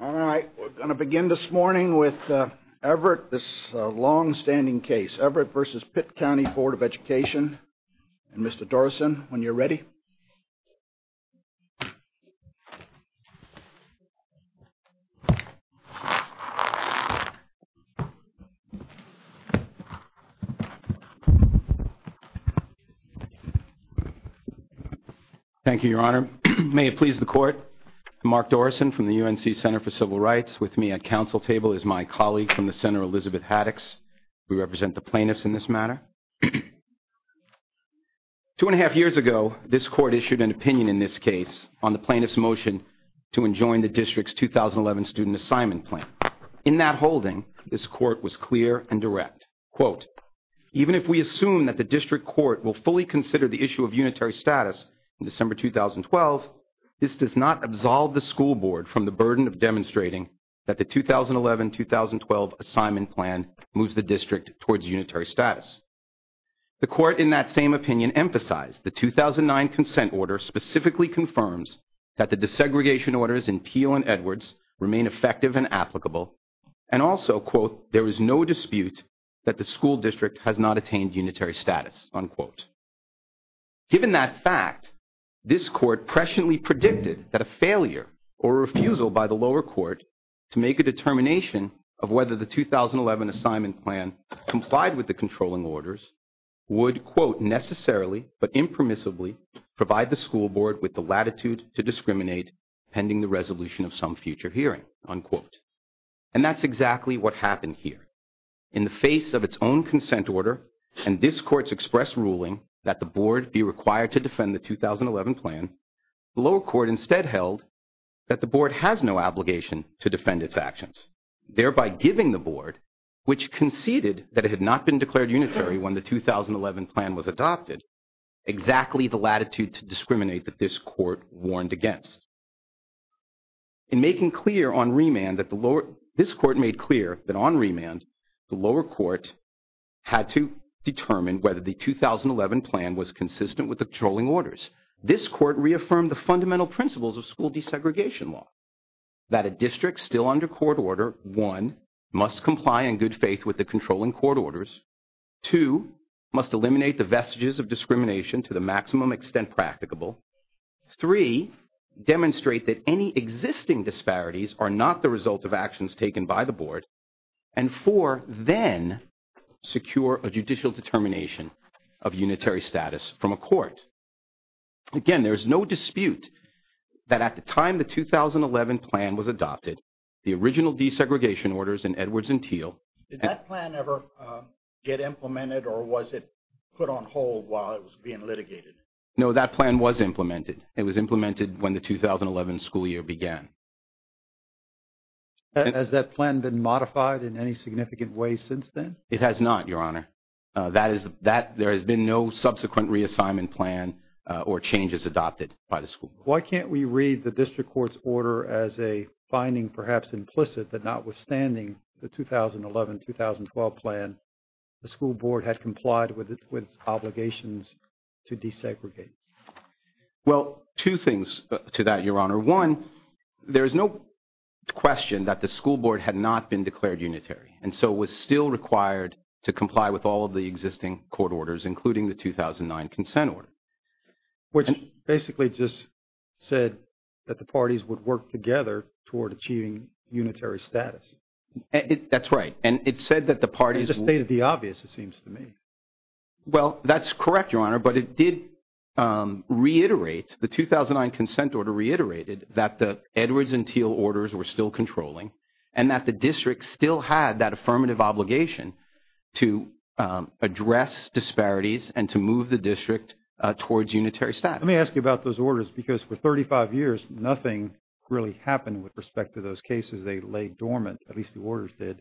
All right, we're going to begin this morning with Everett, this long-standing case. Everett v. Pitt County Board of Education and Mr. Dorison, when you're from the UNC Center for Civil Rights. With me at council table is my colleague from the Center, Elizabeth Haddix. We represent the plaintiffs in this matter. Two and a half years ago, this court issued an opinion in this case on the plaintiff's motion to enjoin the district's 2011 student assignment plan. In that holding, this court was clear and direct. Quote, even if we assume that the district court will fully consider the issue of unitary status in December 2012, this does not absolve the school board from the burden of demonstrating that the 2011-2012 assignment plan moves the district towards unitary status. The court in that same opinion emphasized the 2009 consent order specifically confirms that the desegregation orders in Teal and Edwards remain effective and applicable and also, quote, there is no dispute that the school district has not attained unitary status, unquote. Given that fact, this court presciently predicted that a failure or refusal by the lower court to make a determination of whether the 2011 assignment plan complied with the controlling orders would, quote, necessarily but impermissibly provide the school board with the latitude to discriminate pending the resolution of some future hearing, unquote. And that's exactly what happened here. In the face of its own consent order and this court's express ruling that the board be required to defend the 2011 plan, the lower court instead held that the board has no obligation to defend its actions, thereby giving the board, which conceded that it had not been declared unitary when the 2011 plan was adopted, exactly the latitude to discriminate that this court warned against. In making clear on remand that the lower, this court made clear that on remand, the lower court had to determine whether the 2011 plan was consistent with the controlling orders. This court reaffirmed the fundamental principles of school desegregation law, that a district still under court order, one, must comply in good faith with the controlling court orders, two, must eliminate the vestiges of discrimination to the maximum extent practicable, three, demonstrate that any existing disparities are not the result of actions taken by the board, and four, then secure a judicial determination of unitary status from a court. Again, there is no dispute that at the time the 2011 plan was adopted, the original desegregation orders in Edwards and Thiel. Did that plan ever get implemented or was it put on hold while it was implemented? No, that plan was implemented. It was implemented when the 2011 school year began. Has that plan been modified in any significant way since then? It has not, your honor. That is, that, there has been no subsequent reassignment plan or changes adopted by the school board. Why can't we read the district court's order as a finding perhaps implicit that notwithstanding the 2011-2012 plan, the school board had complied with its obligations to desegregate? Well, two things to that, your honor. One, there is no question that the school board had not been declared unitary, and so was still required to comply with all of the existing court orders, including the 2009 consent order. Which basically just said that the parties would work together toward achieving unitary status. That's right, and it said that the parties would... It just stated the obvious, it seems to me. Well, that's correct, your honor, but it did reiterate, the 2009 consent order reiterated that the Edwards and Thiel orders were still controlling and that the district still had that affirmative obligation to address disparities and to move the district towards unitary status. Let me ask you about those orders because for 35 years, nothing really happened with respect to those cases. They lay dormant, at least the orders did.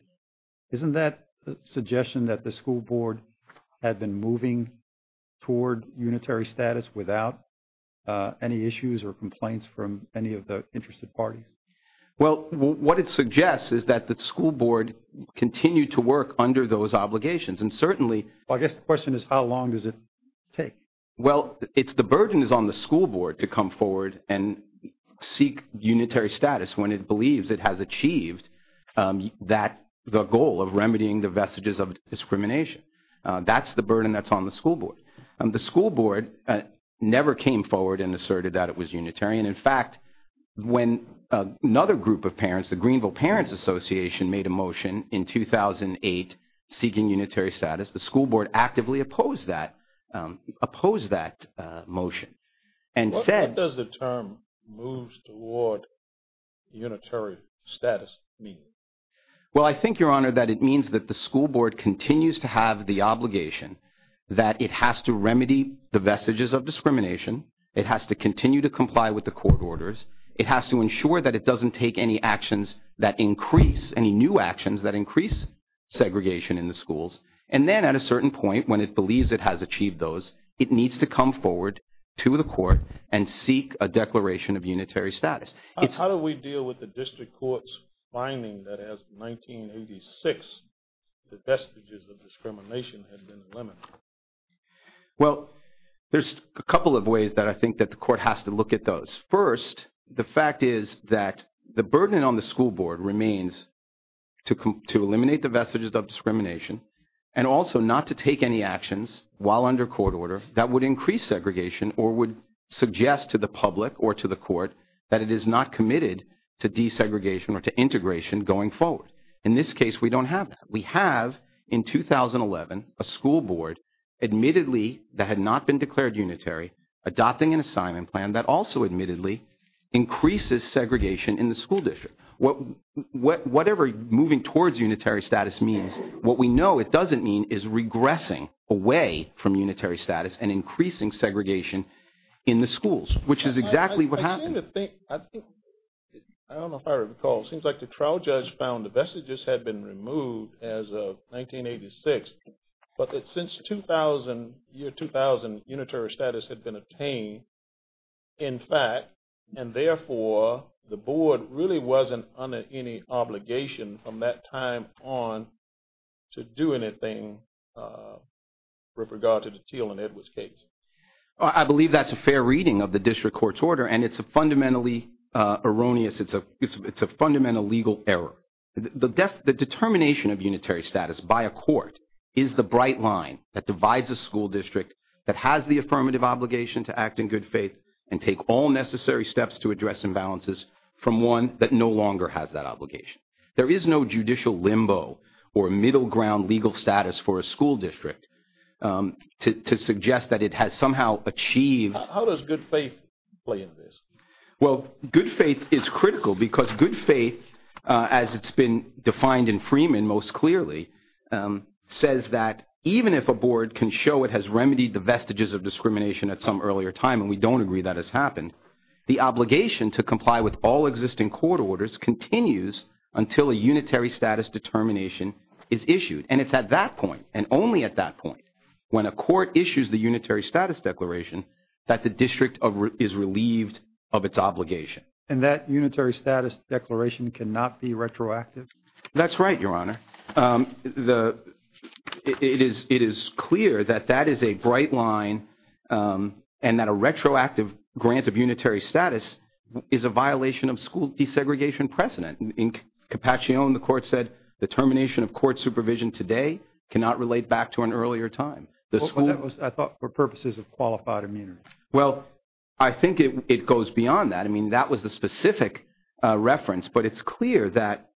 Isn't that a suggestion that the school board had been moving toward unitary status without any issues or complaints from any of the interested parties? Well, what it suggests is that the school board continued to work under those obligations, and certainly... Well, I guess the question is how long does it take? Well, it's the burden is on the school board to come forward and seek unitary status when it believes it has achieved the goal of remedying the vestiges of discrimination. That's the burden that's on the school board. The school board never came forward and asserted that it was unitary, and in fact, when another group of parents, the Greenville Parents Association made a motion in 2008 seeking unitary status, the school board actively opposed that motion and said... What does the term moves toward unitary status mean? Well, I think, Your Honor, that it means that the school board continues to have the obligation that it has to remedy the vestiges of discrimination, it has to continue to comply with the court orders, it has to ensure that it doesn't take any actions that increase, any new actions that increase segregation in the schools, and then at a certain point when it believes it has to do with the court and seek a declaration of unitary status. How do we deal with the district court's finding that as of 1986, the vestiges of discrimination had been eliminated? Well, there's a couple of ways that I think that the court has to look at those. First, the fact is that the burden on the school board remains to eliminate the vestiges of discrimination and also not to take any actions while under court order that would increase segregation or would suggest to the public or to the court that it is not committed to desegregation or to integration going forward. In this case, we don't have that. We have, in 2011, a school board admittedly that had not been declared unitary adopting an assignment plan that also admittedly increases segregation in the school district. Whatever moving towards unitary status means, what we know it doesn't mean is regressing away from unitary status and increasing segregation in the schools, which is exactly what happened. I don't know if I recall. It seems like the trial judge found the vestiges had been removed as of 1986, but that since 2000, year 2000, unitary status had been obtained, in fact, and therefore, the board really wasn't under any obligation from that time on to do anything with regard to the Teal and Edwards case. I believe that's a fair reading of the district court's order, and it's a fundamentally erroneous. It's a fundamental legal error. The determination of unitary status by a court is the bright line that divides a school district that has the affirmative obligation to act in good faith and take all necessary steps to address imbalances from one that no longer has that obligation. There is no judicial limbo or middle ground legal status for a school district to suggest that it has somehow achieved. How does good faith play into this? Well, good faith is critical because good faith, as it's been defined in Freeman most clearly, says that even if a board can show it has remedied the vestiges of discrimination at some earlier time, and we don't agree that has happened, the obligation to comply with all existing court orders continues until a unitary status determination is issued. And it's at that point, and only at that point, when a court issues the unitary status declaration, that the district is relieved of its obligation. And that unitary status declaration cannot be retroactive? That's right, Your Honor. It is clear that that is a bright line and that a retroactive grant of unitary status is a violation of school desegregation precedent. In Capacchione, the court said the termination of court supervision today cannot relate back to an earlier time. I thought that was for purposes of qualified immunity. Well, I think it goes beyond that. I mean, that was the specific reference, but it's clear that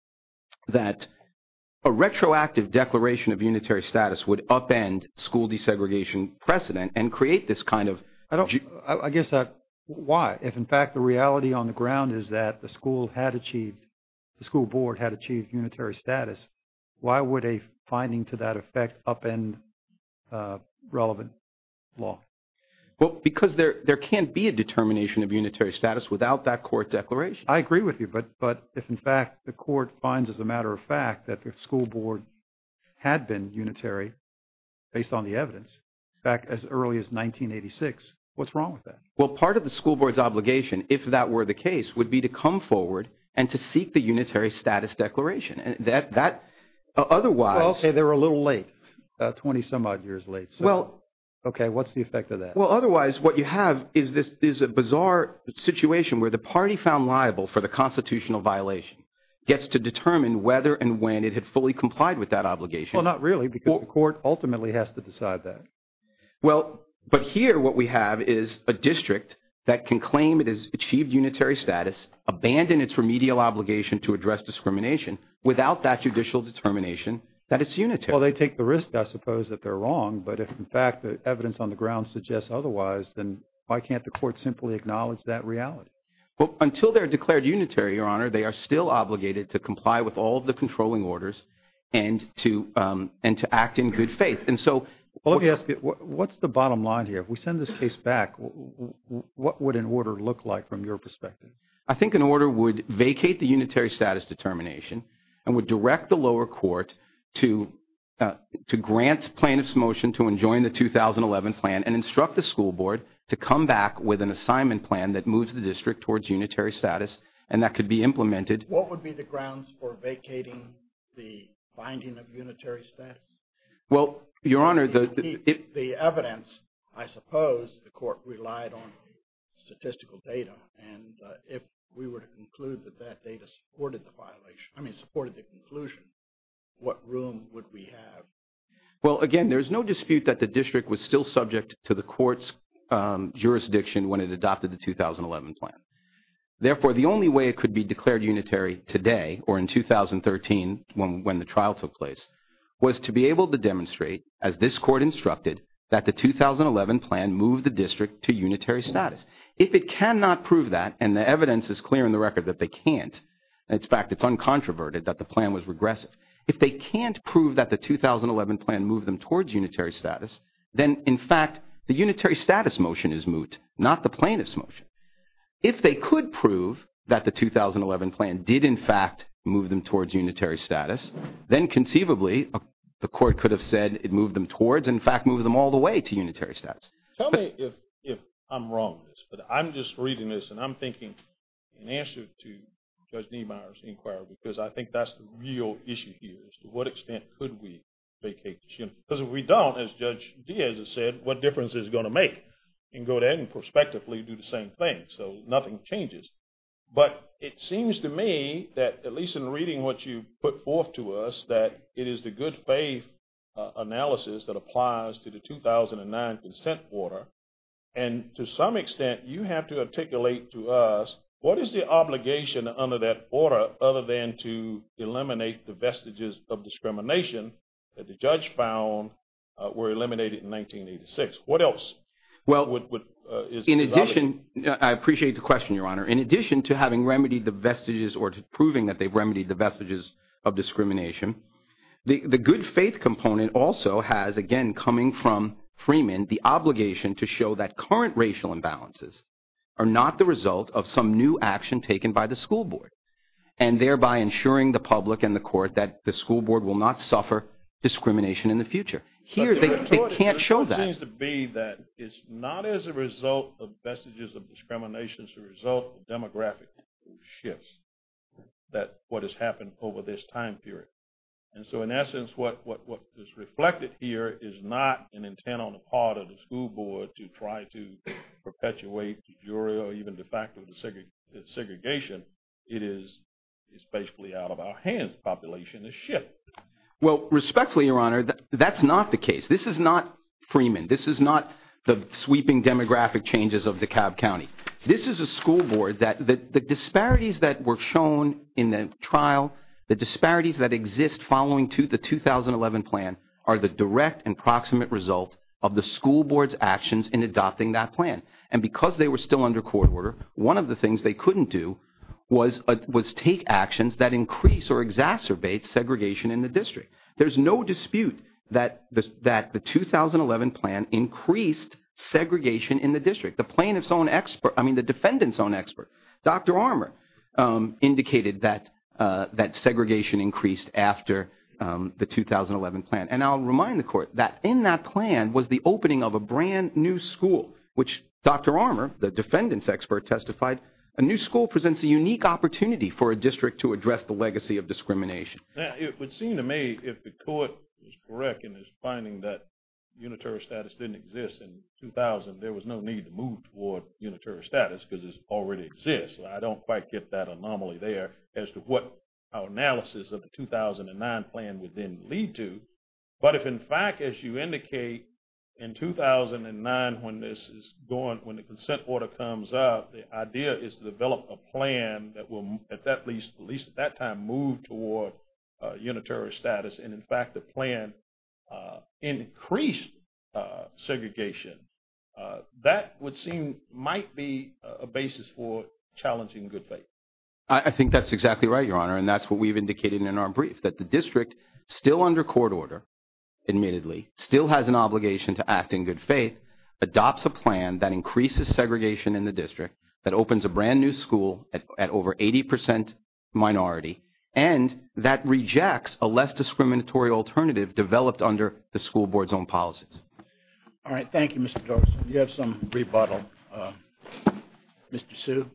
a retroactive declaration of unitary status would upend school desegregation precedent and create this kind of... I guess, why? If, in fact, the reality on the ground is that the school had achieved, the school board had achieved unitary status, why would a finding to that effect upend relevant law? Well, because there can't be a determination of unitary status without that court declaration. I agree with you, but if, in fact, the court finds, as a matter of fact, that the school board had been unitary based on the evidence back as early as 1986, what's wrong with that? Well, part of the school board's obligation, if that were the case, would be to come forward and to seek the unitary status declaration. That otherwise... Well, okay, they're a little late, 20 some odd years late. Well, okay, what's the effect of that? Well, otherwise, what you have is this bizarre situation where the party found liable for the constitutional violation gets to determine whether and when it had fully complied with that obligation. Well, not really, because the court ultimately has to decide that. Well, but here what we have is a district that can claim it has achieved unitary status, abandon its remedial obligation to address discrimination without that judicial determination that it's unitary. Well, they take the risk, I suppose, that they're wrong, but if, in fact, the evidence on the ground suggests otherwise, then why can't the court simply acknowledge that reality? Well, until they're declared unitary, Your Honor, they are still obligated to comply with all of the controlling orders and to act in good faith. And so... Well, let me ask you, what's the bottom line here? If we send this case back, what would an order look like from your perspective? I think an order would vacate the unitary status determination and would direct the lower court to grant plaintiff's motion to enjoin the 2011 plan and instruct the school board to come back with an assignment plan that moves the district towards unitary status and that could be implemented. What would be the grounds for vacating the binding of unitary status? Well, Your Honor, the... The evidence, I suppose, the court relied on statistical data, and if we were to conclude that that data supported the violation, I mean, supported the conclusion, what room would we have? Well, again, there's no dispute that the district was still subject to the court's jurisdiction when it adopted the 2011 plan. Therefore, the only way it could be declared unitary today or in 2013 when the trial took place was to be able to demonstrate, as this court instructed, that the 2011 plan moved the district to unitary status. If it cannot prove that, and the evidence is clear in the record that they can't, in fact, it's uncontroverted that the plan was moved, then, in fact, the unitary status motion is moot, not the plaintiff's motion. If they could prove that the 2011 plan did, in fact, move them towards unitary status, then conceivably, the court could have said it moved them towards, in fact, moved them all the way to unitary status. Tell me if I'm wrong in this, but I'm just reading this, and I'm thinking in answer to Judge Niemeyer's inquiry, because I think that's the real issue here, is to what extent could we vacate the district? Because if we don't, as Judge Diaz has said, what difference is it going to make? You can go ahead and prospectively do the same thing, so nothing changes. But it seems to me that, at least in reading what you put forth to us, that it is the good faith analysis that applies to the 2009 consent order. And to some extent, you have to articulate to us, what is the obligation under that order other than to eliminate the vestiges of discrimination that the judge found were eliminated in 1986? What else is the obligation? Well, in addition, I appreciate the question, Your Honor. In addition to having remedied the vestiges, or to proving that they've remedied the vestiges of discrimination, the good faith component also has, again, coming from Freeman, the obligation to show that current racial imbalances are not the result of some new action taken by the school board. And thereby ensuring the public and the court that the school board will not suffer discrimination in the future. Here, they can't show that. It seems to be that it's not as a result of vestiges of discrimination, it's a result of demographic shifts, that what has happened over this time period. And so in essence, what is reflected here is not an intent on the part of the school board to try to perpetuate de jure or even de facto segregation, it is, it's basically out of our hands, the population has shifted. Well, respectfully, Your Honor, that's not the case. This is not Freeman. This is not the sweeping demographic changes of DeKalb County. This is a school board that the disparities that were shown in the trial, the disparities that exist following to the 2011 plan, are the direct and proximate result of the school board's actions in adopting that plan. And because they were still under court order, one of the things they couldn't do was take actions that increase or exacerbate segregation in the district. There's no dispute that the 2011 plan increased segregation in the district. The plaintiff's own expert, I mean, the defendant's own expert, Dr. Armour, indicated that segregation increased after the 2011 plan. And I'll remind the court that in that plan was the opening of a brand new school, which Dr. Armour, the defendant's expert, testified, a new school presents a unique opportunity for a district to address the legacy of discrimination. Now, it would seem to me if the court was correct in its finding that unitary status didn't exist in 2000, there was no need to move toward unitary status because it already exists. I don't quite get that anomaly there as to what our analysis of the 2009 plan would then lead to. But if, in fact, as you indicate, in 2009 when this is going, when the consent order comes up, the idea is to develop a plan that will, at least at that time, move toward unitary status. And, in fact, the plan increased segregation. That would seem, might be a basis for challenging good faith. I think that's exactly right, Your Honor, and that's what we've indicated in our brief, that the district, still under court order, admittedly, still has an obligation to act in good faith, adopts a plan that increases segregation in the district, that opens a brand new school at over 80 percent minority, and that rejects a less discriminatory alternative developed under the school board's own policies. All right. Thank you, Mr. Torgerson. You have some rebuttal. Mr. Hsu.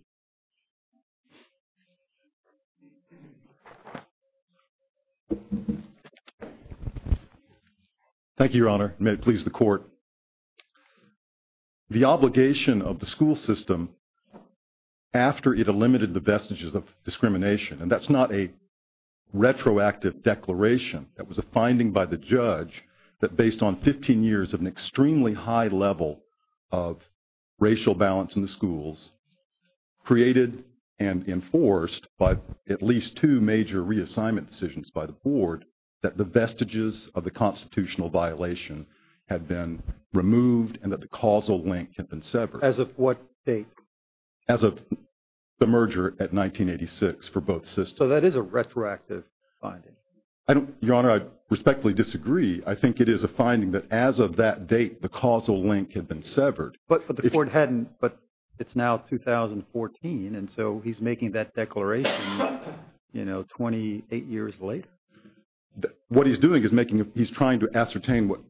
Thank you, Your Honor. May it please the Court. The obligation of the school system, after it eliminated the vestiges of discrimination, and that's not a retroactive declaration, that was a finding by the judge that based on 15 years of an extremely high level of racial balance in the schools, created and enforced by at least two major reassignment decisions by the board, that the vestiges of the constitutional violation had been removed and that the causal link had been severed. As of what date? As of the merger at 1986 for both systems. So that is a retroactive finding. I don't, Your Honor, I respectfully disagree. I think it is a finding that as of that date, the causal link had been severed. But the court hadn't, but it's now 2014, and so he's making that declaration, you know, 28 years later. What he's doing is making, he's trying to ascertain what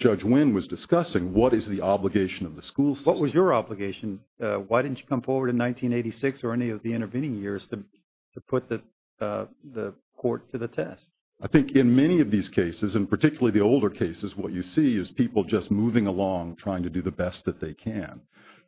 Judge Wynn was discussing. What is the obligation of the school system? What was your obligation? Why didn't you come forward in 1986 or any of the intervening years to put the court to the test? I think in many of these cases, and particularly the older cases, what you see is people just moving along, trying to do the best that they can.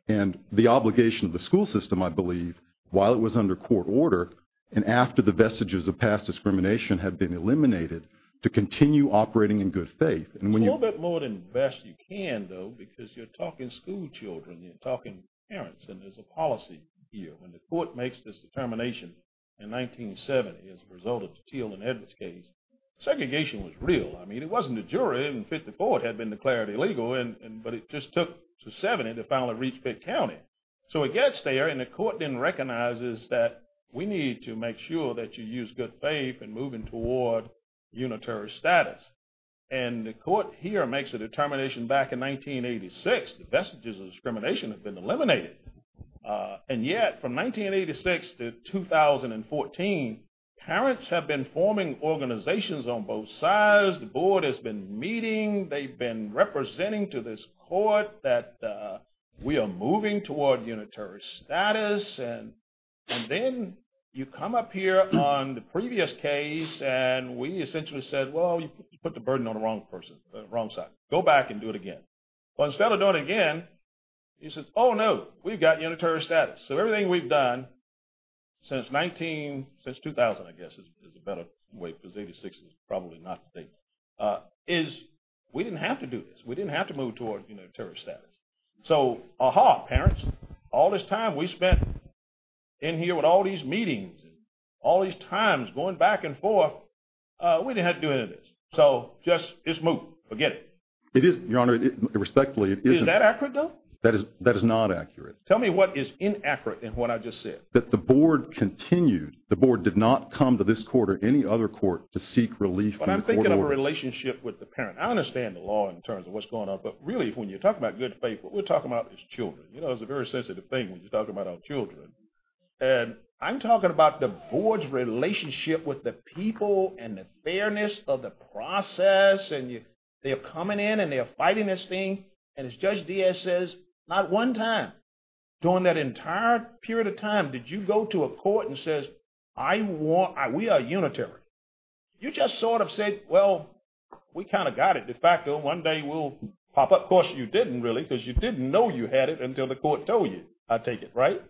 And the obligation of the school system, I believe, while it was under court order and after the vestiges of past discrimination had been eliminated, to continue operating in good faith. And when you... A little bit more than best you can, though, because you're talking school children, you're talking parents. And there's a policy here. When the court makes this determination in 1970 as a result of the Teal and Edwards case, segregation was real. I mean, it wasn't a jury. In 54, it had been declared illegal, but it just took to 70 to finally reach Pitt County. So it gets there, and the court then recognizes that we need to make sure that you use good faith in moving toward unitary status. And the court here makes a determination back in 1986, the vestiges of discrimination had been eliminated. And yet, from 1986 to 2014, parents have been forming organizations on both sides, the board has been meeting, they've been representing to this court that we are moving toward unitary status. And then you come up here on the previous case, and we essentially said, well, you put the burden on the wrong person, the wrong side. Go back and do it again. Well, instead of doing it again, he says, oh, no, we've got unitary status. So everything we've done since 2000, I guess, is a better way, because 86 is probably not the date, is we didn't have to do this. We didn't have to move toward unitary status. So, aha, parents, all this time we spent in here with all these meetings, all these times going back and forth, we didn't have to do any of this. So just, it's moot. Forget it. It is, Your Honor, respectfully, it isn't. Is that accurate, though? That is not accurate. Tell me what is inaccurate in what I just said. That the board continued, the board did not come to this court or any other court to seek relief from the court orders. But I'm thinking of a relationship with the parent. I understand the law in terms of what's going on, but really, when you're talking about good faith, what we're talking about is children. You know, it's a very sensitive thing when you're talking about our children. And I'm talking about the board's relationship with the people and the fairness of the process, and they are coming in and they are fighting this thing. And as Judge Diaz says, not one time during that entire period of time did you go to a court and says, we are unitary. You just sort of said, well, we kind of got it de facto. One day we'll pop up, of course, you didn't really, because you didn't know you had it until the court told you, I take it, right?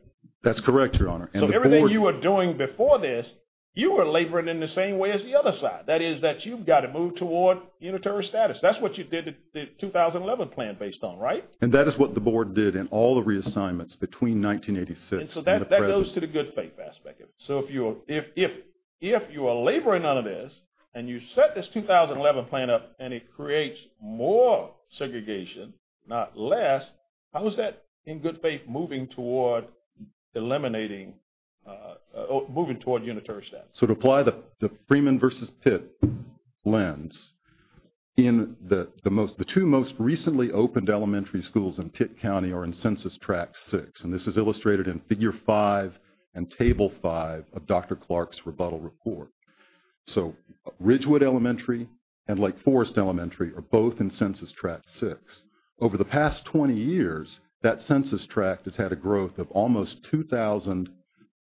That's correct, Your Honor. So everything you were doing before this, you were laboring in the same way as the other side. That is that you've got to move toward unitary status. That's what you did the 2011 plan based on, right? And that is what the board did in all the reassignments between 1986 and the present. And so that goes to the good faith aspect of it. So if you are laboring on this, and you set this 2011 plan up, and it creates more segregation, not less, how is that, in good faith, moving toward eliminating, moving toward unitary status? So to apply the Freeman versus Pitt lens, the two most recently opened elementary schools in Pitt County are in Census Tract 6, and this is illustrated in Figure 5 and Table 5 of Dr. Clark's rebuttal report. So Ridgewood Elementary and Lake Forest Elementary are both in Census Tract 6. Over the past 20 years, that Census Tract has had a growth of almost 2,000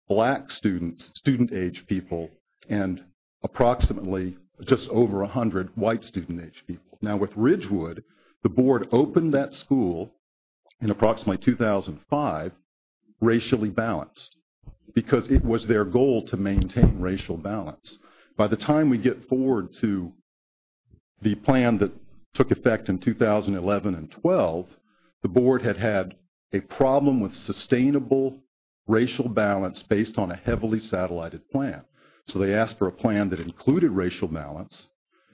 black students, student age people, and approximately just over 100 white student age people. Now with Ridgewood, the board opened that school in approximately 2005 racially balanced because it was their goal to maintain racial balance. By the time we get forward to the plan that took effect in 2011 and 12, the board had a problem with sustainable racial balance based on a heavily satellited plan. So they asked for a plan that included racial balance,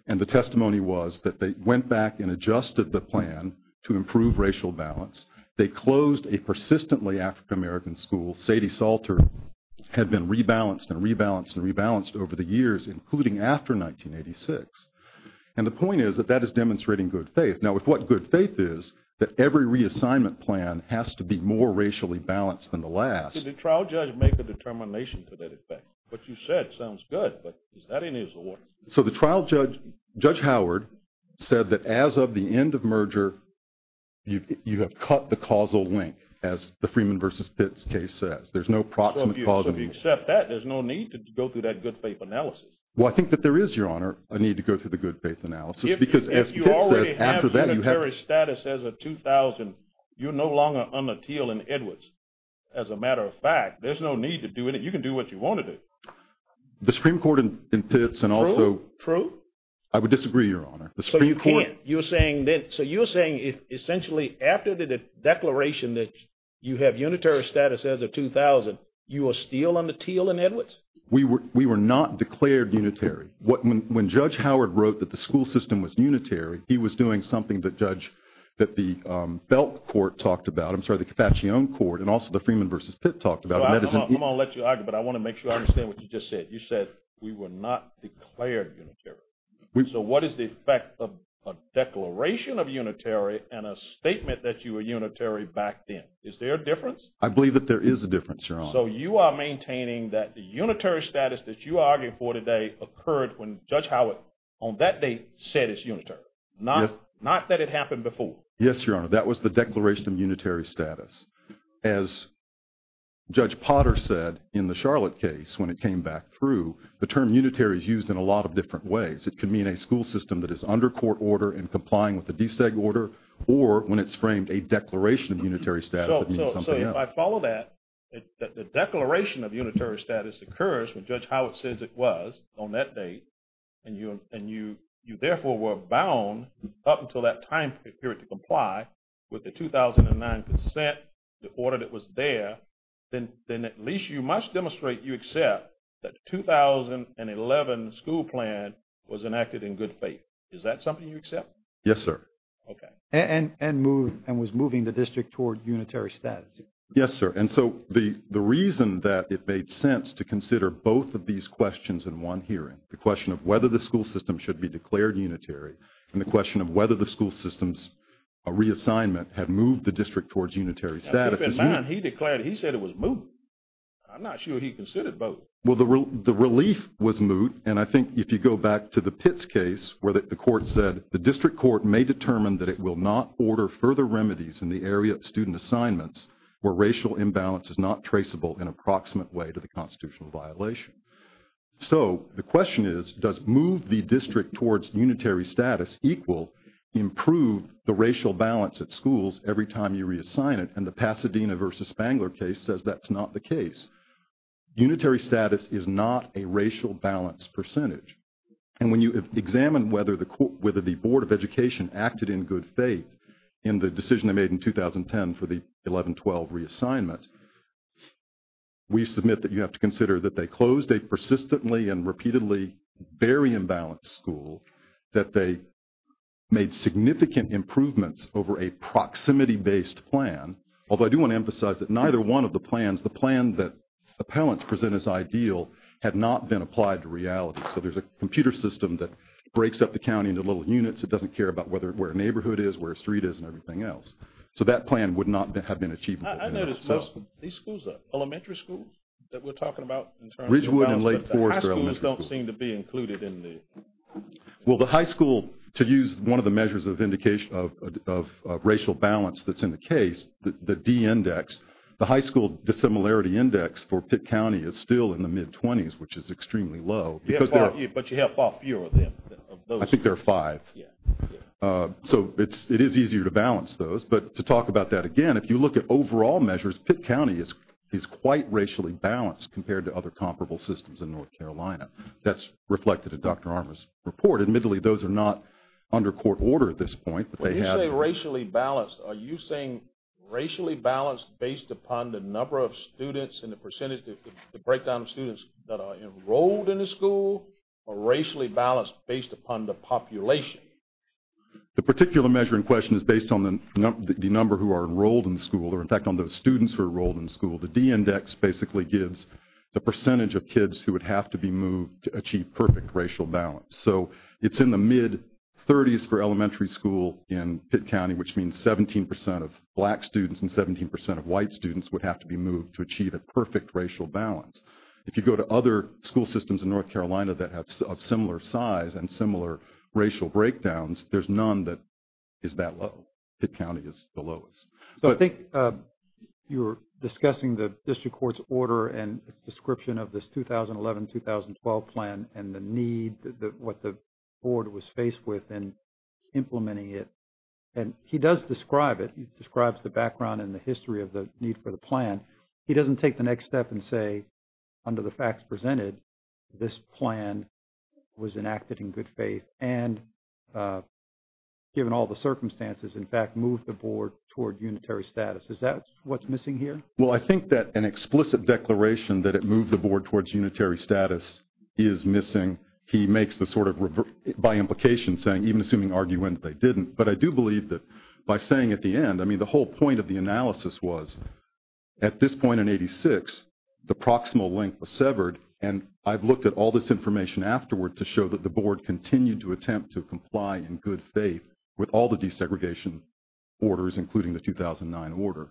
and the testimony was that they went back and adjusted the plan to improve racial balance. They closed a persistently African American school, Sadie Salter, had been rebalanced and rebalanced and rebalanced over the years, including after 1986. And the point is that that is demonstrating good faith. Now with what good faith is, that every reassignment plan has to be more racially balanced than the last. Did the trial judge make a determination to that effect? What you said sounds good, but is that in his award? So the trial judge, Judge Howard, said that as of the end of merger, you have cut the causal link, as the Freeman v. Pitts case says. There's no proximate causality. So if you accept that, there's no need to go through that good faith analysis? Well, I think that there is, Your Honor, a need to go through the good faith analysis If you already have unitary status as of 2000, you're no longer under Teal and Edwards. As a matter of fact, there's no need to do anything. You can do what you want to do. The Supreme Court in Pitts and also... True, true. I would disagree, Your Honor. The Supreme Court... So you can't... You're saying that... So you're saying, essentially, after the declaration that you have unitary status as of 2000, you are still under Teal and Edwards? We were not declared unitary. When Judge Howard wrote that the school system was unitary, he was doing something that the Belk Court talked about, I'm sorry, the Cappaccio Court, and also the Freeman v. Pitts talked about. I'm going to let you argue, but I want to make sure I understand what you just said. You said we were not declared unitary. So what is the effect of a declaration of unitary and a statement that you were unitary back then? I believe that there is a difference, Your Honor. So you are maintaining that the unitary status that you are arguing for today occurred when Judge Howard, on that date, said it's unitary. Not that it happened before. Yes, Your Honor. That was the declaration of unitary status. As Judge Potter said in the Charlotte case when it came back through, the term unitary is used in a lot of different ways. It could mean a school system that is under court order and complying with the DSEG order, or when it's framed a declaration of unitary status, it means something else. So if I follow that, that the declaration of unitary status occurs when Judge Howard says it was on that date, and you therefore were bound up until that time period to comply with the 2009 consent, the order that was there, then at least you must demonstrate you accept that the 2011 school plan was enacted in good faith. Is that something you accept? Yes, sir. Okay. And was moving the district toward unitary status? Yes, sir. And so the reason that it made sense to consider both of these questions in one hearing, the question of whether the school system should be declared unitary, and the question of whether the school system's reassignment had moved the district towards unitary status. Keep in mind, he declared, he said it was moot. I'm not sure he considered both. Well, the relief was moot, and I think if you go back to the Pitts case where the court may determine that it will not order further remedies in the area of student assignments where racial imbalance is not traceable in an approximate way to the constitutional violation. So the question is, does move the district towards unitary status equal improve the racial balance at schools every time you reassign it? And the Pasadena versus Spangler case says that's not the case. Unitary status is not a racial balance percentage. And when you examine whether the Board of Education acted in good faith in the decision they made in 2010 for the 11-12 reassignment, we submit that you have to consider that they closed a persistently and repeatedly very imbalanced school, that they made significant improvements over a proximity-based plan, although I do want to emphasize that neither one of the plans, the plan that appellants present as ideal, had not been applied to a computer system that breaks up the county into little units, it doesn't care about where a neighborhood is, where a street is, and everything else. So that plan would not have been achievable. I notice most of these schools are elementary schools that we're talking about in terms of balance, but the high schools don't seem to be included in the… Well, the high school, to use one of the measures of racial balance that's in the case, the D index, the high school dissimilarity index for Pitt County is still in the mid-20s, which is extremely low. But you have far fewer of them, of those… I think there are five. So it is easier to balance those. But to talk about that again, if you look at overall measures, Pitt County is quite racially balanced compared to other comparable systems in North Carolina. That's reflected in Dr. Armour's report. Admittedly, those are not under court order at this point, but they have… When you say racially balanced, are you saying racially balanced based upon the number of students in the school, or racially balanced based upon the population? The particular measure in question is based on the number who are enrolled in the school, or in fact on those students who are enrolled in the school. The D index basically gives the percentage of kids who would have to be moved to achieve perfect racial balance. So it's in the mid-30s for elementary school in Pitt County, which means 17% of black students and 17% of white students would have to be moved to achieve a perfect racial balance. If you go to other school systems in North Carolina that have a similar size and similar racial breakdowns, there's none that is that low. Pitt County is the lowest. So I think you were discussing the district court's order and its description of this 2011-2012 plan and the need, what the board was faced with in implementing it. And he does describe it, he describes the background and the history of the need for the plan. And he doesn't take the next step and say, under the facts presented, this plan was enacted in good faith and given all the circumstances, in fact, moved the board toward unitary status. Is that what's missing here? Well, I think that an explicit declaration that it moved the board towards unitary status is missing. He makes the sort of, by implication, saying, even assuming argument, they didn't. But I do believe that by saying at the end, I mean, the whole point of the analysis was at this point in 86, the proximal length was severed. And I've looked at all this information afterward to show that the board continued to attempt to comply in good faith with all the desegregation orders, including the 2009 order.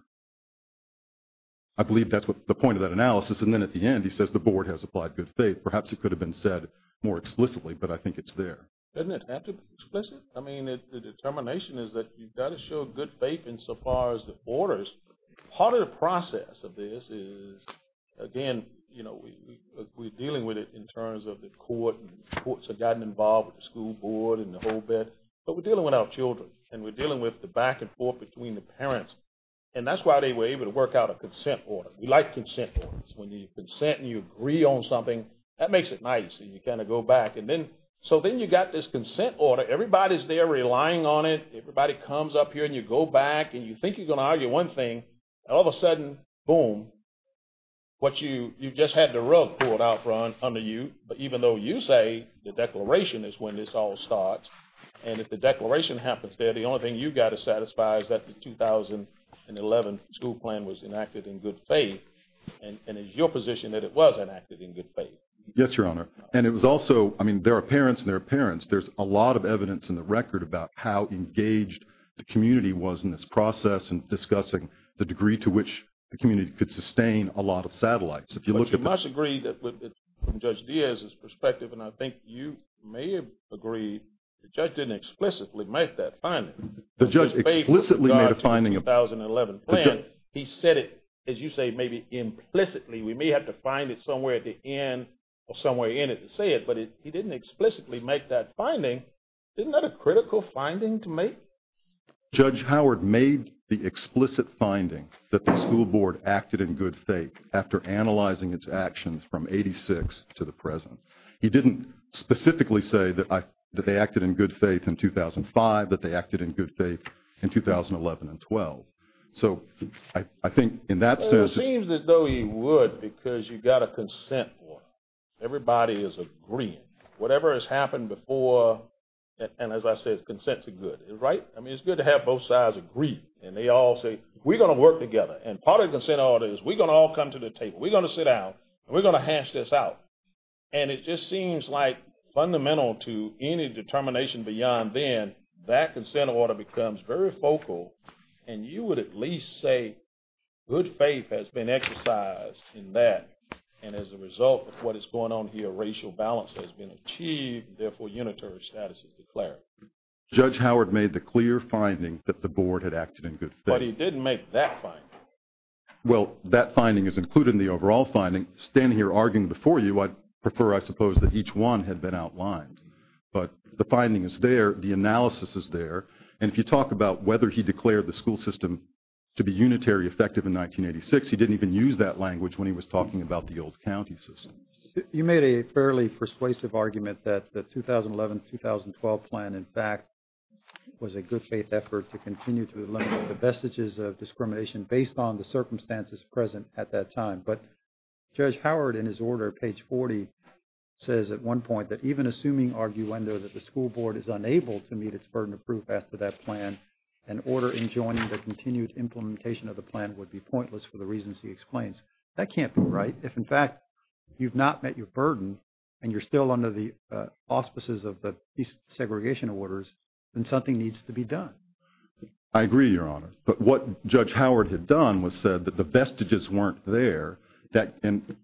I believe that's the point of that analysis. And then at the end, he says the board has applied good faith. Perhaps it could have been said more explicitly, but I think it's there. Doesn't it have to be explicit? I mean, the determination is that you've got to show good faith insofar as the borders are closed. Part of the process of this is, again, we're dealing with it in terms of the court, and the courts have gotten involved with the school board and the whole bit, but we're dealing with our children. And we're dealing with the back and forth between the parents. And that's why they were able to work out a consent order. We like consent orders. When you consent and you agree on something, that makes it nice, and you kind of go back. So then you've got this consent order. Everybody's there relying on it. Everybody comes up here, and you go back, and you think you're going to argue one thing. And all of a sudden, boom, you just had the rug pulled out from under you. But even though you say the declaration is when this all starts, and if the declaration happens there, the only thing you've got to satisfy is that the 2011 school plan was enacted in good faith, and it's your position that it was enacted in good faith. Yes, Your Honor. And it was also, I mean, there are parents, and there are parents. There's a lot of evidence in the record about how engaged the community was in this process in discussing the degree to which the community could sustain a lot of satellites. If you look at the- But you must agree that, from Judge Diaz's perspective, and I think you may have agreed, the judge didn't explicitly make that finding. The judge explicitly made a finding about- The 2011 plan, he said it, as you say, maybe implicitly. We may have to find it somewhere at the end or somewhere in it to say it, but he didn't explicitly make that finding. Isn't that a critical finding to make? Judge Howard made the explicit finding that the school board acted in good faith after analyzing its actions from 86 to the present. He didn't specifically say that they acted in good faith in 2005, that they acted in good faith in 2011 and 12. So I think, in that sense- Well, it seems as though he would because you've got a consent order. Everybody is agreeing. Whatever has happened before, and as I said, consents are good, right? I mean, it's good to have both sides agree. And they all say, we're going to work together. And part of the consent order is, we're going to all come to the table. We're going to sit down, and we're going to hash this out. And it just seems like, fundamental to any determination beyond then, that consent order becomes very focal, and you would at least say, good faith has been exercised in that, and as a result of what is going on here, racial balance has been achieved, therefore, unitary status is declared. Judge Howard made the clear finding that the board had acted in good faith. But he didn't make that finding. Well, that finding is included in the overall finding. Standing here arguing before you, I'd prefer, I suppose, that each one had been outlined. But the finding is there. The analysis is there. And if you talk about whether he declared the school system to be unitary effective in 1986, he didn't even use that language when he was talking about the old county system. You made a fairly persuasive argument that the 2011-2012 plan, in fact, was a good faith effort to continue to eliminate the vestiges of discrimination based on the circumstances present at that time. But Judge Howard, in his order, page 40, says at one point, that even assuming arguendo that the school board is unable to meet its burden of proof after that plan, an order enjoining the continued implementation of the plan would be pointless for the reasons he explains. That can't be right. If, in fact, you've not met your burden and you're still under the auspices of the segregation orders, then something needs to be done. I agree, Your Honor. But what Judge Howard had done was said that the vestiges weren't there. And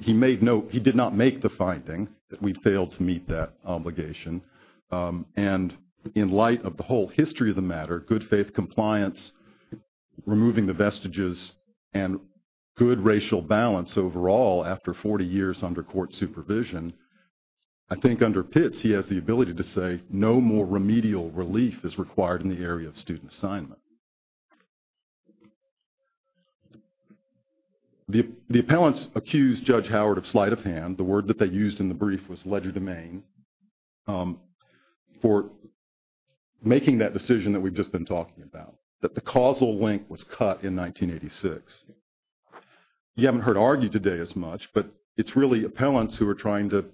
he made note, he did not make the finding that we failed to meet that obligation. And in light of the whole history of the matter, good faith compliance, removing the vestiges, and good racial balance overall after 40 years under court supervision, I think under Pitts he has the ability to say, no more remedial relief is required in the area of student assignment. The appellants accused Judge Howard of sleight of hand. The word that they used in the brief was legerdemain, for making that decision that we've just been talking about, that the causal link was cut in 1986. You haven't heard argued today as much, but it's really appellants who are trying to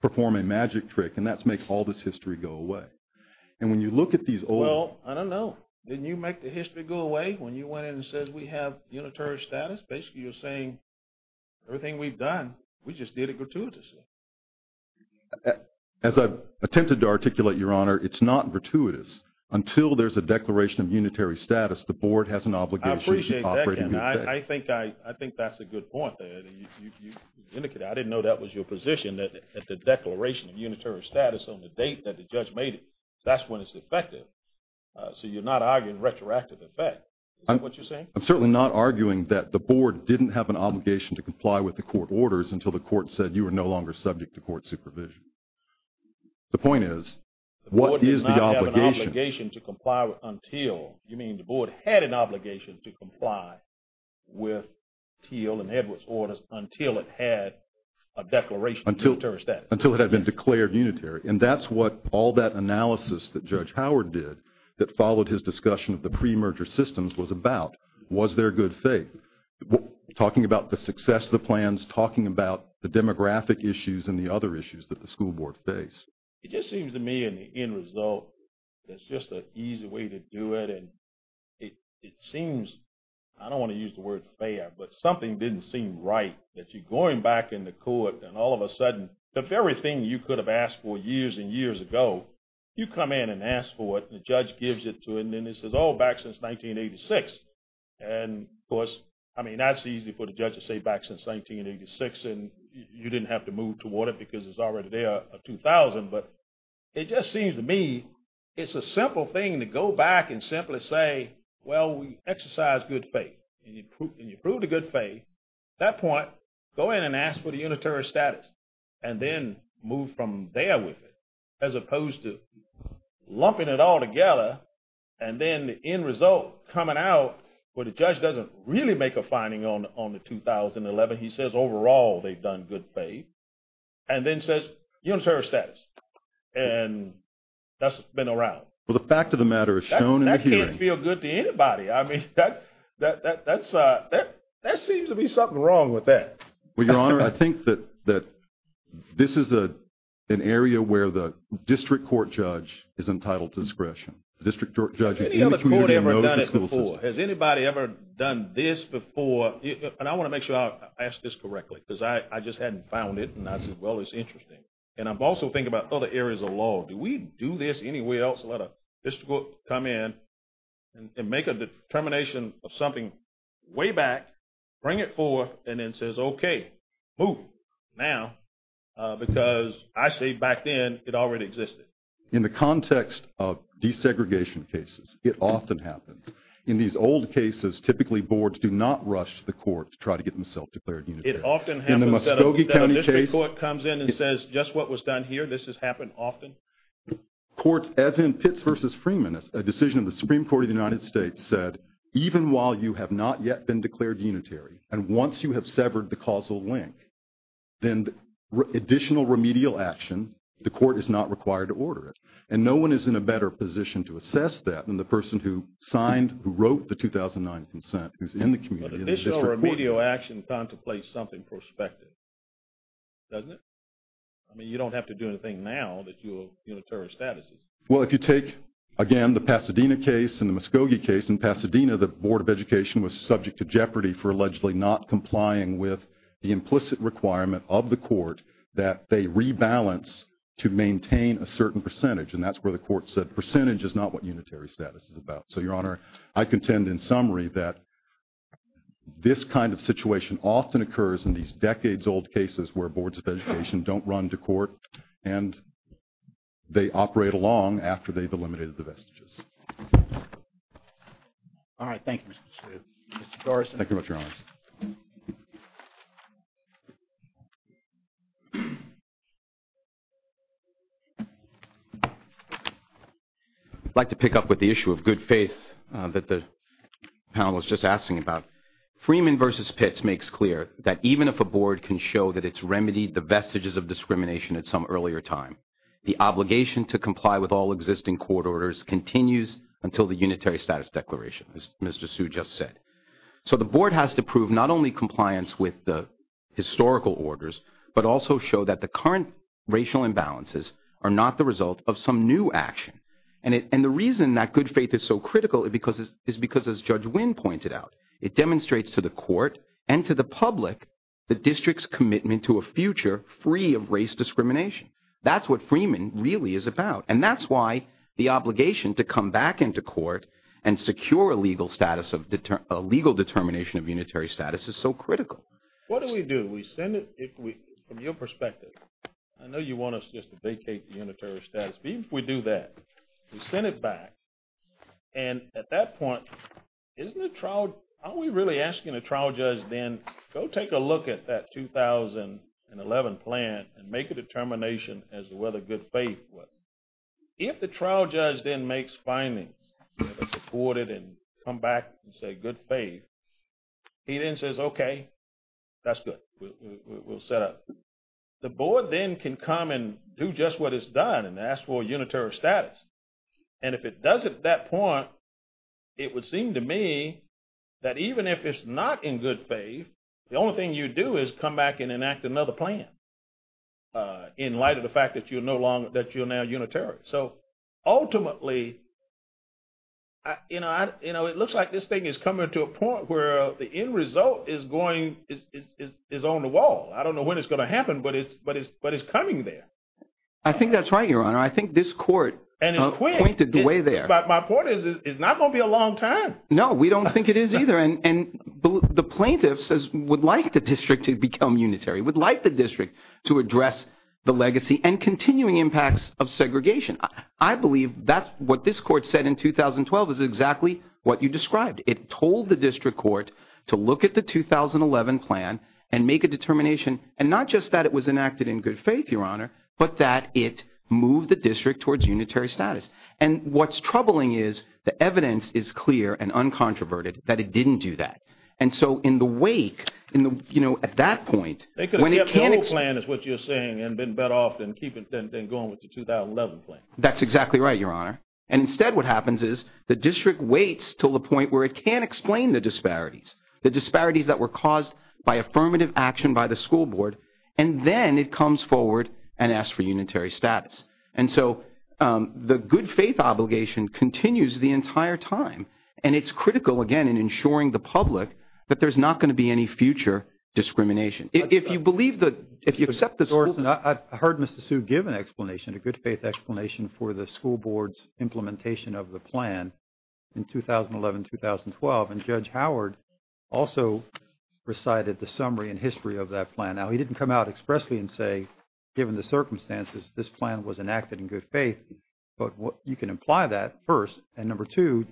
perform a magic trick, and that's make all this history go away. And when you look at these old... Well, I don't know. Didn't you make the history go away when you went in and said we have unitary status? Basically, you're saying everything we've done, we just did it gratuitously. As I've attempted to articulate, Your Honor, it's not gratuitous. Until there's a declaration of unitary status, the board has an obligation to operate in good faith. I appreciate that, Ken. I think that's a good point. You indicated I didn't know that was your position, that the declaration of unitary status on the date that the judge made it, that's when it's effective. So you're not arguing retroactive effect. Is that what you're saying? I'm certainly not arguing that the board didn't have an obligation to comply with the court orders until the court said you were no longer subject to court supervision. The point is, what is the obligation? The board did not have an obligation to comply until. You mean the board had an obligation to comply with Teal and Edwards orders until it had a declaration of unitary status. Until it had been declared unitary. And that's what all that analysis that Judge Howard did that followed his discussion of the pre-merger systems was about. Was there good faith? Talking about the success of the plans, talking about the demographic issues and the other issues that the school board faced. It just seems to me in the end result, it's just an easy way to do it. And it seems, I don't want to use the word fair, but something didn't seem right that you're going back in the court and all of a sudden the very thing you could have asked for years and years ago, you come in and ask for it and the judge gives it to you and then it says, oh, back since 1986. And of course, I mean, that's easy for the judge to say back since 1986 and you didn't have to move toward it because it's already there, 2000. But it just seems to me it's a simple thing to go back and simply say, well, we exercised good faith and you proved a good faith. At that point, go in and ask for the unitary status and then move from there with it as opposed to lumping it all together and then the end result coming out where the judge doesn't really make a finding on the 2011, he says overall they've done good faith and then says unitary status. And that's been around. Well, the fact of the matter is shown in the hearing. That can't feel good to anybody. I mean, that seems to be something wrong with that. Well, Your Honor, I think that this is an area where the district court judge is entitled to discretion. The district court judge is in the community and knows the school system. Has anybody ever done this before? And I want to make sure I ask this correctly because I just hadn't found it and I said, well, it's interesting. And I'm also thinking about other areas of law. Do we do this anywhere else? Let a district court come in and make a determination of something way back, bring it forth, and then says, okay, move now. Because I say back then it already existed. In the context of desegregation cases, it often happens. In these old cases, typically boards do not rush to the court to try to get them self-declared unitary. It often happens. In the Muskogee County case. The district court comes in and says, just what was done here, this has happened often. Courts, as in Pitts v. Freeman, a decision of the Supreme Court of the United States said, even while you have not yet been declared unitary and once you have severed the causal link, then additional remedial action, the court is not required to order it. And no one is in a better position to assess that than the person who signed, who wrote the 2009 consent who's in the community. But additional remedial action contemplates something prospective, doesn't it? I mean, you don't have to do anything now that your unitary status is. Well, if you take, again, the Pasadena case and the Muskogee case, in Pasadena the Board of Education was subject to jeopardy for allegedly not complying with the implicit requirement of the court that they rebalance to maintain a certain percentage. And that's where the court said percentage is not what unitary status is about. So, Your Honor, I contend in summary that this kind of situation often occurs in these decades-old cases where boards of education don't run to court and they operate along after they've eliminated the vestiges. All right. Thank you, Mr. Chiu. Mr. Dorison. Thank you very much, Your Honor. I'd like to pick up with the issue of good faith that the panel was just asking about. Freeman v. Pitts makes clear that even if a board can show that it's remedied the vestiges of discrimination at some earlier time, the obligation to comply with all existing court orders continues until the unitary status declaration, as Mr. Hsu just said. So the board has to prove not only compliance with the historical orders, but also show that the current racial imbalances are not the result of some new action. And the reason that good faith is so critical is because, as Judge Wynn pointed out, it demonstrates to the court and to the public the district's commitment to a future free of race discrimination. That's what Freeman really is about. And that's why the obligation to come back into court and secure a legal determination of unitary status is so critical. What do we do? We send it, from your perspective, I know you want us just to vacate the unitary status. But even if we do that, we send it back. And at that point, isn't the trial, aren't we really asking the trial judge then, go take a look at that 2011 plan and make a determination as to whether good faith was. If the trial judge then makes findings, supported and come back and say good faith, he then says, okay, that's good, we'll set up. The board then can come and do just what it's done and ask for unitary status. And if it doesn't at that point, it would seem to me that even if it's not in good faith, the only thing you do is come back and enact another plan in light of the fact that you're now unitary. So ultimately, it looks like this thing is coming to a point where the end result is going, is on the wall. I don't know when it's going to happen, but it's coming there. I think that's right, Your Honor. I think this court pointed the way there. My point is it's not going to be a long time. No, we don't think it is either. And the plaintiff says would like the district to become unitary, would like the district to address the legacy and continuing impacts of segregation. I believe that's what this court said in 2012 is exactly what you described. It told the district court to look at the 2011 plan and make a determination, and not just that it was enacted in good faith, Your Honor, but that it moved the district towards unitary status. And what's troubling is the evidence is clear and uncontroverted that it didn't do that. And so in the wake, you know, at that point, when it can't – They could have kept the old plan is what you're saying and been better off than going with the 2011 plan. That's exactly right, Your Honor. And instead what happens is the district waits until the point where it can't explain the disparities, the disparities that were caused by affirmative action by the school board, and then it comes forward and asks for unitary status. And so the good faith obligation continues the entire time, and it's critical, again, in ensuring the public that there's not going to be any future discrimination. If you believe the – if you accept the school board – of the plan in 2011-2012, and Judge Howard also recited the summary and history of that plan. Now, he didn't come out expressly and say, given the circumstances, this plan was enacted in good faith. But you can imply that first. And number two,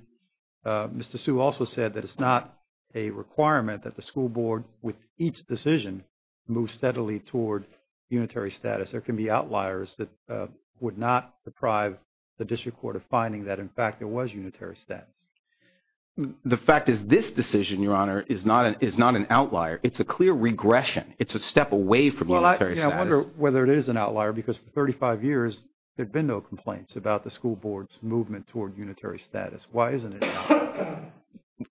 Mr. Sue also said that it's not a requirement that the school board, with each decision, move steadily toward unitary status. There can be outliers that would not deprive the district court of finding that, in fact, there was unitary status. The fact is this decision, Your Honor, is not an outlier. It's a clear regression. It's a step away from unitary status. Well, I wonder whether it is an outlier because for 35 years, there have been no complaints about the school board's movement toward unitary status. Why isn't it?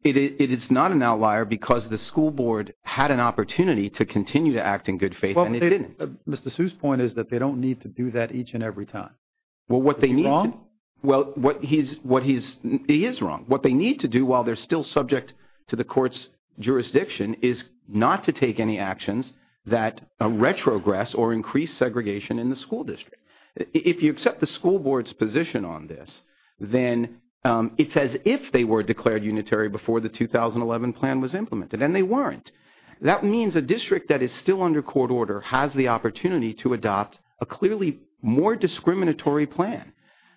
It is not an outlier because the school board had an opportunity to continue to act in good faith, and it didn't. Mr. Sue's point is that they don't need to do that each and every time. Well, what they need to do while they're still subject to the court's jurisdiction is not to take any actions that retrogress or increase segregation in the school district. If you accept the school board's position on this, then it's as if they were declared unitary before the 2011 plan was implemented, and they weren't. That means a district that is still under court order has the opportunity to adopt a clearly more discriminatory plan.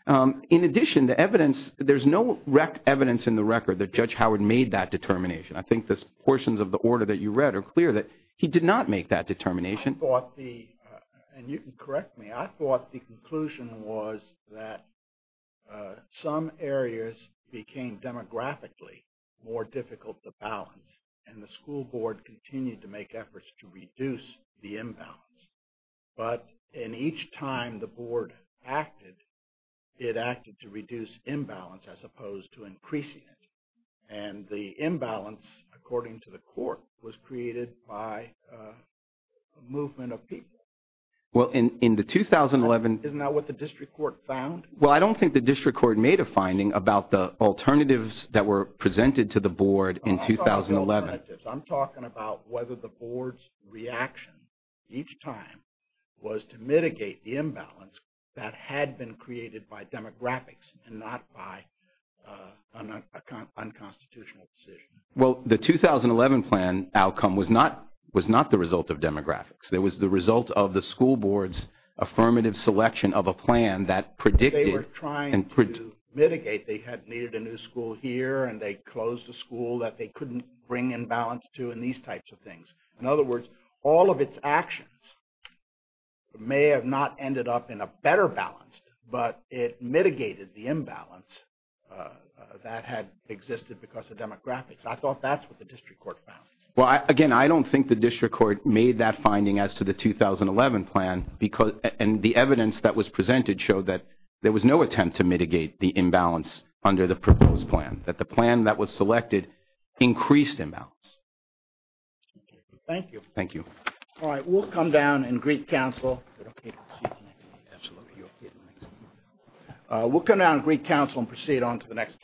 In addition, there's no evidence in the record that Judge Howard made that determination. I think the portions of the order that you read are clear that he did not make that determination. You can correct me. I thought the conclusion was that some areas became demographically more difficult to balance, and the school board continued to make efforts to reduce the imbalance. But in each time the board acted, it acted to reduce imbalance as opposed to increasing it. And the imbalance, according to the court, was created by a movement of people. Isn't that what the district court found? Well, I don't think the district court made a finding about the alternatives that were presented to the board in 2011. I'm talking about whether the board's reaction each time was to mitigate the imbalance that had been created by demographics and not by an unconstitutional decision. Well, the 2011 plan outcome was not the result of demographics. It was the result of the school board's affirmative selection of a plan that predicted They were trying to mitigate. They had needed a new school here, and they closed a school that they couldn't bring in balance to and these types of things. In other words, all of its actions may have not ended up in a better balance, but it mitigated the imbalance that had existed because of demographics. I thought that's what the district court found. Well, again, I don't think the district court made that finding as to the 2011 plan, and the evidence that was presented showed that there was no attempt to mitigate the imbalance under the proposed plan, that the plan that was selected increased imbalance. Thank you. Thank you. All right, we'll come down and greet counsel. Absolutely. We'll come down and greet counsel and proceed on to the next case.